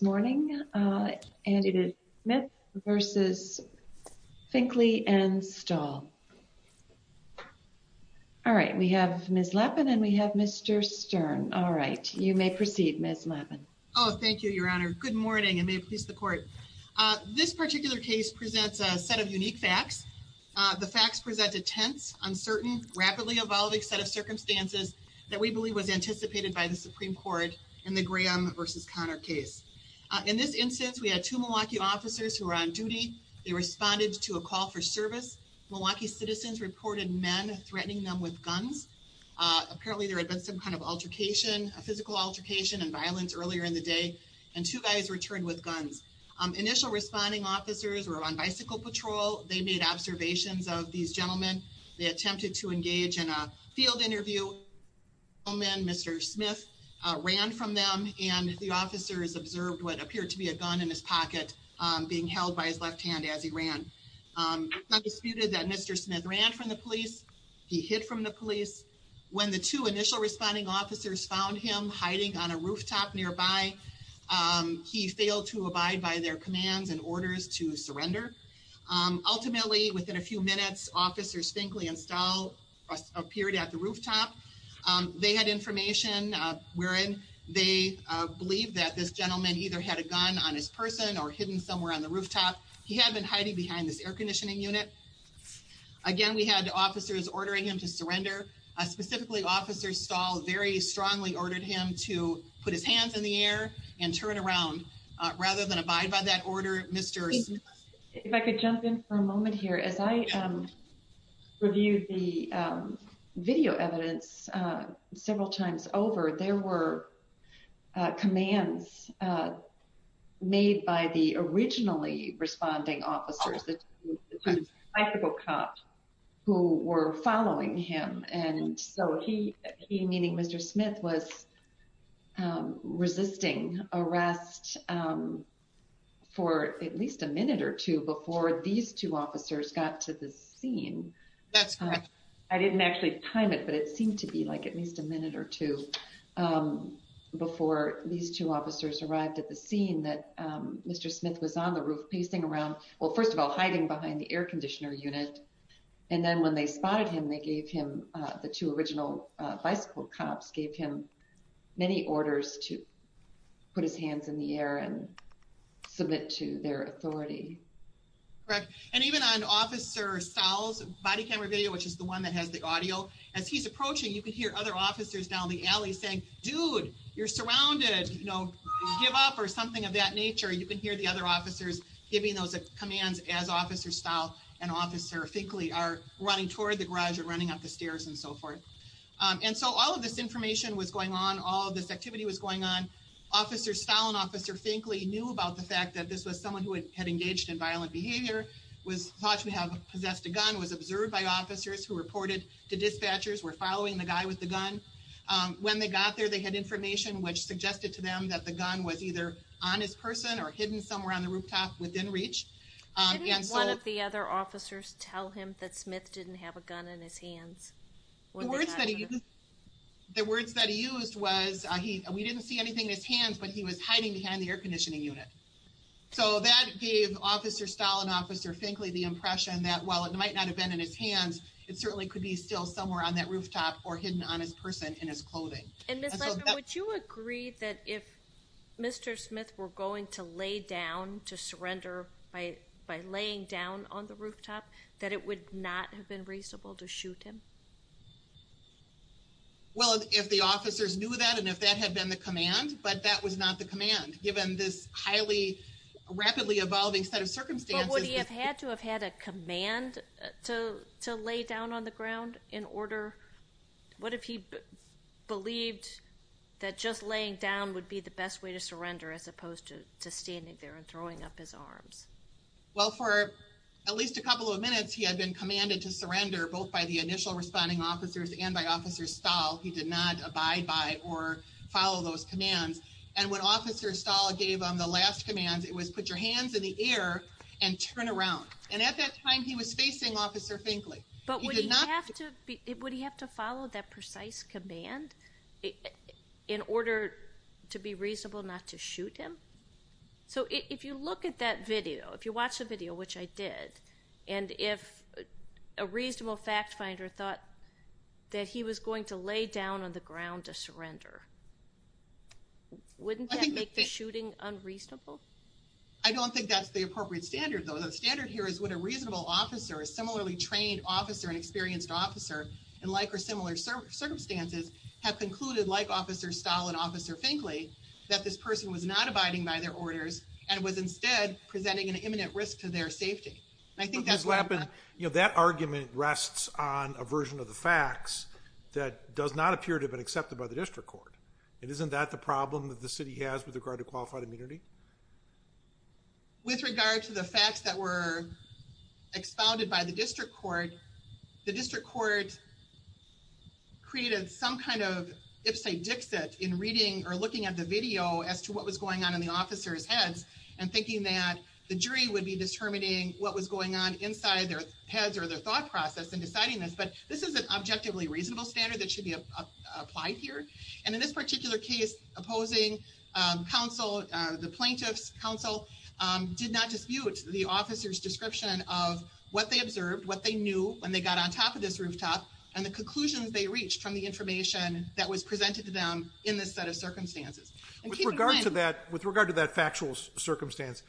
morning and it is Smith versus Finkley and Stahl. All right we have Ms. Lappin and we have Mr. Stern. All right you may proceed Ms. Lappin. Oh thank you Your Honor. Good morning and may it please the court. This particular case presents a set of unique facts. The facts present a tense, uncertain, rapidly evolving set of circumstances that we believe was anticipated by the Supreme Court in the In this instance we had two Milwaukee officers who were on duty. They responded to a call for service. Milwaukee citizens reported men threatening them with guns. Uh apparently there had been some kind of altercation, a physical altercation and violence earlier in the day and two guys returned with guns. Initial responding officers were on bicycle patrol. They made observations of these gentlemen. They attempted to engage in a field interview and Mr. Smith ran from them and the officers observed what appeared to be a gun in his pocket being held by his left hand as he ran. It's not disputed that Mr. Smith ran from the police. He hid from the police. When the two initial responding officers found him hiding on a rooftop nearby, he failed to abide by their commands and orders to surrender. Ultimately within a few minutes, he and Stahl appeared at the rooftop. They had information wherein they believe that this gentleman either had a gun on his person or hidden somewhere on the rooftop. He had been hiding behind this air conditioning unit. Again, we had officers ordering him to surrender. Specifically, Officer Stahl very strongly ordered him to put his hands in the air and turn around rather than abide by that order. Mr. If I could jump in for a moment here as I reviewed the video evidence several times over, there were commands made by the originally responding officers, the two bicycle cops who were following him. And so he, he meaning Mr. Smith was resisting arrest for at least a minute or two before these two officers got to the scene. I didn't actually time it, but it seemed to be like at least a minute or two before these two officers arrived at the scene that Mr. Smith was on the roof pacing around. Well, first of all, hiding behind the air conditioner unit. And then when they spotted him, they gave him the two original bicycle cops gave him many correct. And even on Officer Stahl's body camera video, which is the one that has the audio as he's approaching, you can hear other officers down the alley saying, dude, you're surrounded, you know, give up or something of that nature. You can hear the other officers giving those commands as Officer Stahl and Officer Finkley are running toward the garage and running up the stairs and so forth. Um, and so all of this information was going on. All of this activity was going on. Officer Stalin, Officer Finkley knew about the violent behavior, was thought to have possessed a gun, was observed by officers who reported to dispatchers were following the guy with the gun. Um, when they got there, they had information which suggested to them that the gun was either on his person or hidden somewhere on the rooftop within reach. And so one of the other officers tell him that Smith didn't have a gun in his hands. The words that the words that he used was he we didn't see anything in his hands, but he was hiding behind the air Officer Stalin, Officer Finkley, the impression that while it might not have been in his hands, it certainly could be still somewhere on that rooftop or hidden on his person in his clothing. And would you agree that if Mr Smith were going to lay down to surrender by by laying down on the rooftop that it would not have been reasonable to shoot him? Well, if the officers knew that and if that had been the command, but that was not the command. Given this highly rapidly evolving set of circumstances, would he have had to have had a command to lay down on the ground in order? What if he believed that just laying down would be the best way to surrender as opposed to standing there and throwing up his arms? Well, for at least a couple of minutes, he had been commanded to surrender both by the initial responding officers and by Officer Stahl. He did not abide by or when Officer Stahl gave him the last command, it was put your hands in the air and turn around. And at that time, he was facing Officer Finkley. But would he have to follow that precise command in order to be reasonable not to shoot him? So if you look at that video, if you watch the video, which I did, and if a reasonable fact finder thought that he was going to make the shooting unreasonable? I don't think that's the appropriate standard, though. The standard here is what a reasonable officer, a similarly trained officer and experienced officer in like or similar circumstances have concluded, like Officer Stahl and Officer Finkley, that this person was not abiding by their orders and was instead presenting an imminent risk to their safety. I think that's what happened. You know, that argument rests on a version of the facts that does not appear to have been accepted by the district court. And isn't that the problem that the city has with regard to qualified immunity? With regard to the facts that were expounded by the district court, the district court created some kind of ipsy-dixit in reading or looking at the video as to what was going on in the officer's heads and thinking that the jury would be determining what was going on inside their heads or their thought process in deciding this. But this is an objectively reasonable standard that should be applied here. And in this particular case, opposing counsel, the plaintiff's counsel, did not dispute the officer's description of what they observed, what they knew when they got on top of this rooftop and the conclusions they reached from the information that was presented to them in this set of circumstances. With regard to that, with regard to that factual circumstance,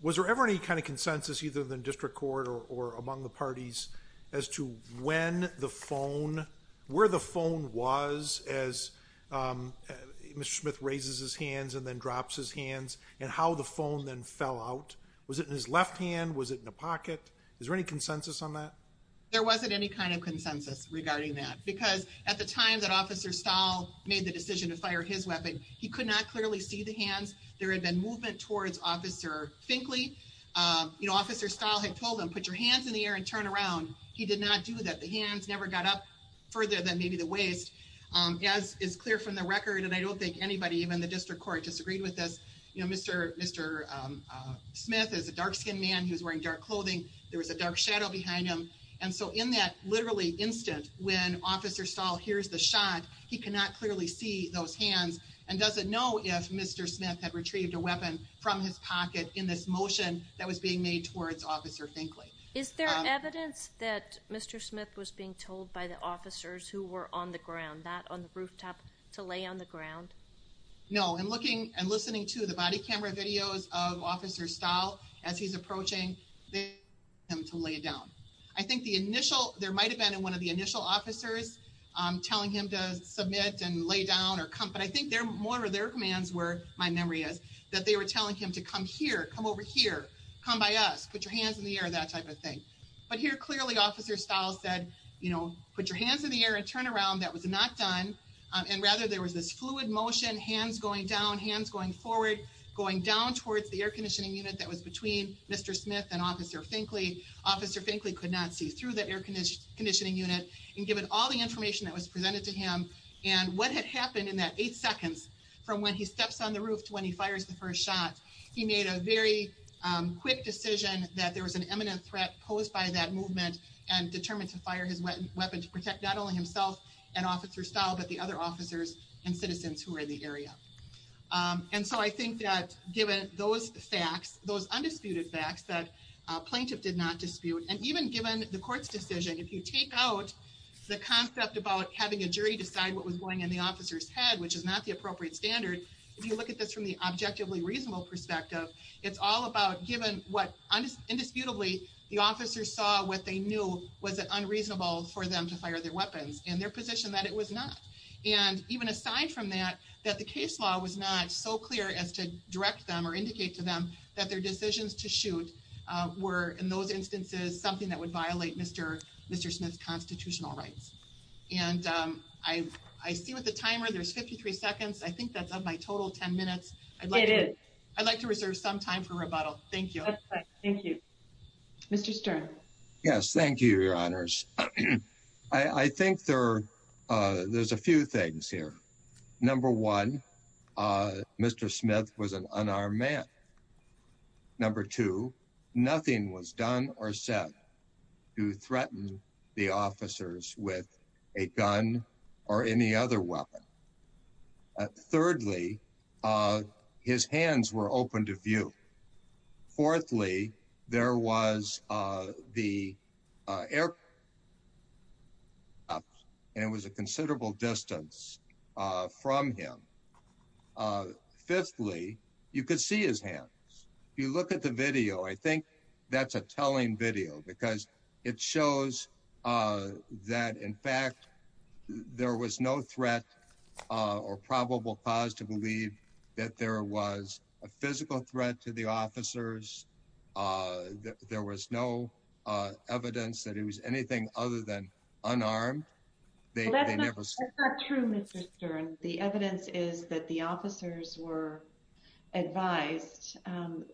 was there ever any kind of consensus, either in the district court or among the parties, as to when the phone, where the phone was as Mr. Smith raises his hands and then drops his hands, and how the phone then fell out? Was it in his left hand? Was it in a pocket? Is there any consensus on that? There wasn't any kind of consensus regarding that. Because at the time that Officer Stahl made the decision to fire his weapon, he could not clearly see the hands. There had been movement towards Officer Finkley. You know, Officer Stahl had told him, put your hands in the air and turn around. He did not do that. The hands never got up further than maybe the waist, as is clear from the record. And I don't think anybody, even the district court, disagreed with this. You know, Mr. Smith is a dark-skinned man. He was wearing dark clothing. There was a dark shadow behind him. And so in that literally instant when Officer Stahl hears the shot, he cannot clearly see those hands and doesn't know if Mr. Smith had retrieved a weapon from his pocket in this motion that was being made towards Officer Finkley. Is there evidence that Mr. Smith was being told by the officers who were on the ground, not on the rooftop, to lay on the ground? No. In looking and listening to the body camera videos of Officer Stahl as he's approaching, they asked him to lay down. I think the initial, there might have been in one of the initial officers telling him to submit and lay down or come. But I think they're more of their commands were, my memory is, that they were telling him to come here, come over here, come by us, put your hands in the air, that type of thing. But here, clearly, Officer Stahl said, you know, put your hands in the air and turn around. That was not done. And rather, there was this fluid motion, hands going down, hands going forward, going down towards the air conditioning unit that was between Mr. Smith and Officer Finkley. Officer Finkley could not see through the air conditioning unit and give it all the information that was presented to him. And what had happened in that eight seconds, from when he steps on the roof to when he fires the first shot, he made a very quick decision that there was an imminent threat posed by that movement and determined to fire his weapon to protect not only himself and Officer Stahl, but the other officers and citizens who were in the area. And so I think that given those facts, those undisputed facts that a plaintiff did not dispute, and even given the court's decision, if you take out the concept about having a jury decide what was going in the officer's head, which is not the appropriate standard, if you look at this from the objectively reasonable perspective, it's all about given what, indisputably, the officers saw what they knew was unreasonable for them to fire their weapons and their position that it was not. And even aside from that, that the case law was not so clear as to direct them or indicate to them that their decisions to shoot were, in those instances, something that would violate Mr. Smith's constitutional rights. And I see with the timer, there's 53 seconds. I think that's of my total 10 minutes. I'd like it. I'd like to reserve some time for rebuttal. Thank you. Thank you, Mr Stern. Yes, thank you, Your Honors. I think there, uh, there's a few things here. Number one, uh, Mr Smith was an unarmed man. Number two, nothing was done or said to threaten the officers with a gun or any other weapon. Thirdly, uh, his hands were open to view. Fourthly, there was the, uh, air. Uh, and it was a considerable distance, uh, from him. Uh, fifthly, you could see his hands. You look at the video. I think that's a telling video because it was not a threat, uh, or probable cause to believe that there was a physical threat to the officers. Uh, there was no evidence that it was anything other than unarmed. That's not true, Mr. Stern. The evidence is that the officers were advised, um,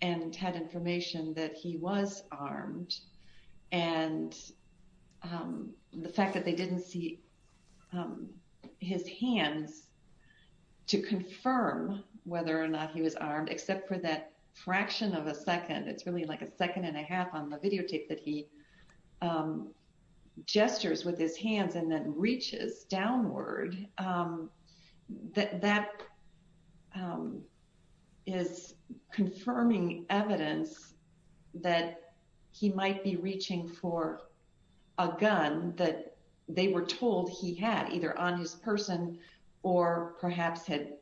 and had information that he was armed. And, um, the fact that they didn't see, um, his hands to confirm whether or not he was armed, except for that fraction of a second. It's really like a second and a half on the videotape that he, um, gestures with his hands and then reaches downward. Um, that, that, um, is confirming evidence that he might be reaching for a they were told he had either on his person or perhaps had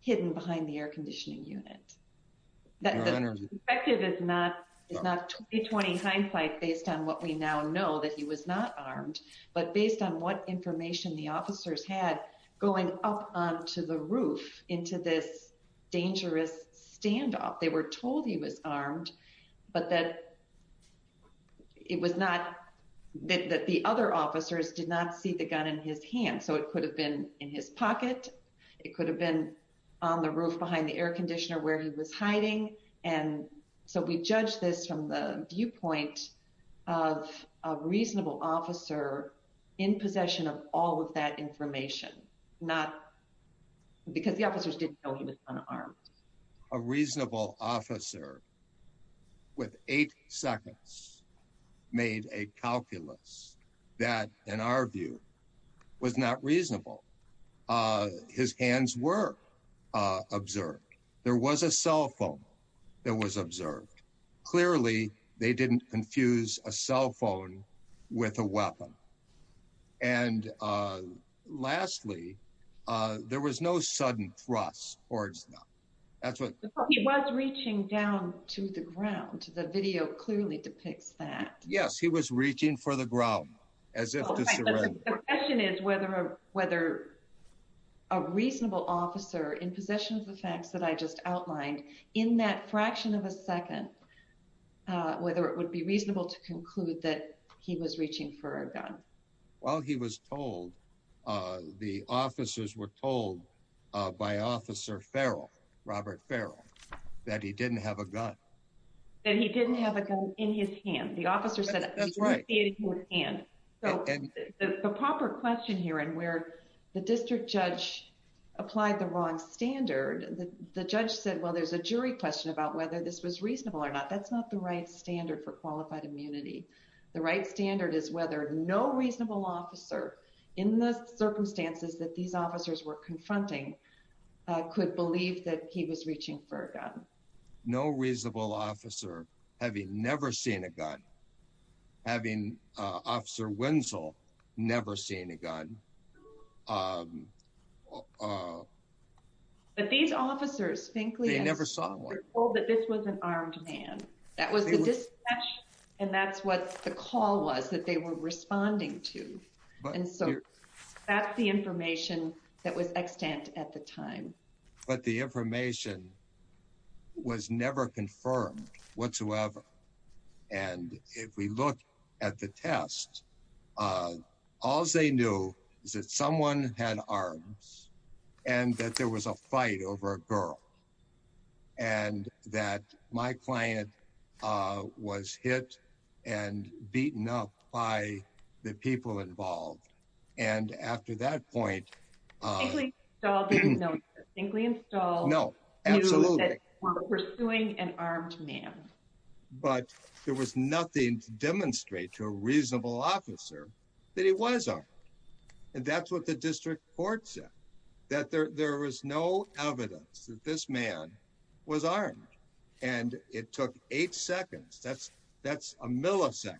hidden behind the air conditioning unit that effective is not. It's not 20 hindsight based on what we now know that he was not armed, but based on what information the officers had going up onto the roof into this dangerous standoff, they were told he was armed, but that it was not that the other officers did not see the gun in his hand. So it could have been in his pocket. It could have been on the roof behind the air conditioner where he was hiding. And so we judged this from the viewpoint of a reasonable officer in possession of all of that information, not because the officers didn't know he was unarmed. A reasonable officer with eight seconds made a calculus that, in our view, was not reasonable. Uh, his hands were observed. There was a cell phone that was observed. Clearly, they there was no sudden thrusts or it's not. That's what he was reaching down to the ground. The video clearly depicts that. Yes, he was reaching for the ground as if the question is whether whether a reasonable officer in possession of the facts that I just outlined in that fraction of a second, uh, whether it would be reasonable to conclude that he was reaching for a gun while he was told the officers were told by Officer Farrell, Robert Farrell, that he didn't have a gun, that he didn't have a gun in his hand. The officer said that's right hand. So the proper question here and where the district judge applied the wrong standard, the judge said, Well, there's a jury question about whether this was reasonable or not. That's not the right standard for in the circumstances that these officers were confronting. I could believe that he was reaching for a gun. No reasonable officer. Have you never seen a gun? Having Officer Wenzel never seen a gun? Um, uh, but these officers think they never saw that this was an armed man. That was just and that's what the call was that they were responding to. And so that's the information that was extant at the time. But the information was never confirmed whatsoever. And if we look at the test, uh, all they knew is that someone had arms and that there was a fight over a girl and that my client, uh, was hit and beaten up by the people involved. And after that point, uh, think we install? No, absolutely. We're doing an armed man. But there was nothing to demonstrate to a reasonable officer that he was on. And that's what the district court said, that there was no evidence that this man was armed. And it took eight seconds. That's that's a millisecond.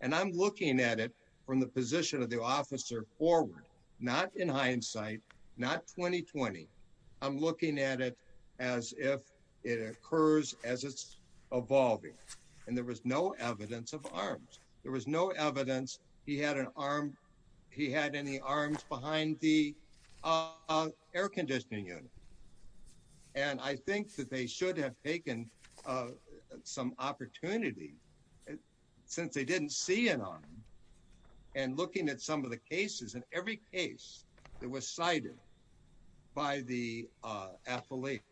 And I'm looking at it from the position of the officer forward, not in hindsight, not 2020. I'm looking at it as if it occurs as it's evolving. And there was no evidence of arms. There was no evidence he had an arm. He had any arms behind the, uh, and I think that they should have taken, uh, some opportunity since they didn't see it on and looking at some of the cases in every case that was cited by the athlete,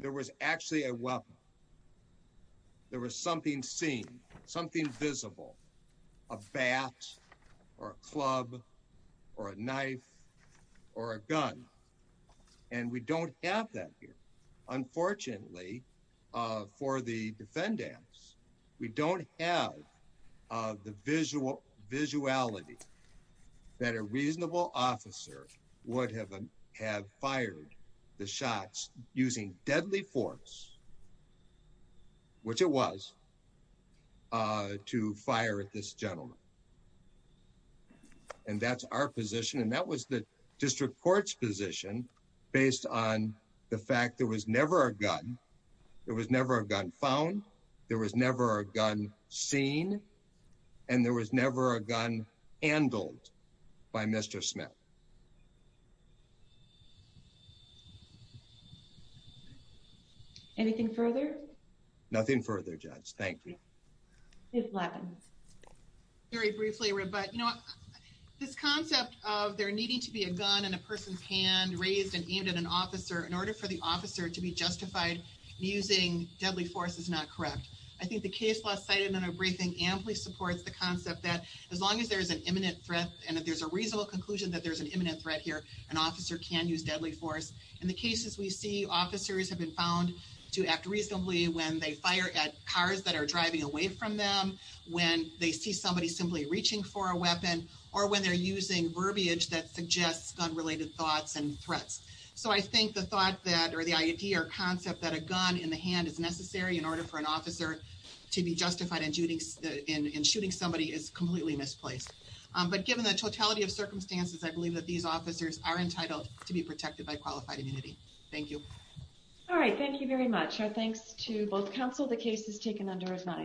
there was actually a weapon. There was something seen something visible, a bat or a club or a knife or a we don't have that here. Unfortunately, for the defendants, we don't have the visual visuality that a reasonable officer would have have fired the shots using deadly force, which it was, uh, to fire at this gentleman. And that's our position. And that was the district court's position based on the fact there was never a gun. There was never a gun found. There was never a gun seen, and there was never a gun handled by Mr Smith. Anything further? Nothing further. Judge. Thank you. It's Latin. Very briefly. But you know, this concept of there needing to be a gun in a person's hand raised and aimed at an officer in order for the officer to be justified using deadly force is not correct. I think the case last cited in a briefing amply supports the concept that as long as there is an imminent threat and if there's a reasonable conclusion that there's an imminent threat here, an officer can use deadly force. In the cases we see, officers have been found to act reasonably when they fire at cars that are driving away from them, when they see somebody simply reaching for a weapon or when they're using verbiage that suggests gun related thoughts and threats. So I think the thought that or the idea or concept that a gun in the hand is necessary in order for an officer to be justified in shooting somebody is completely misplaced. But given the totality of circumstances, I believe that these officers are entitled to be protected by qualified immunity. Thank you. All right. Thank you very much. Our thanks to both counsel. The case is taken under his mind.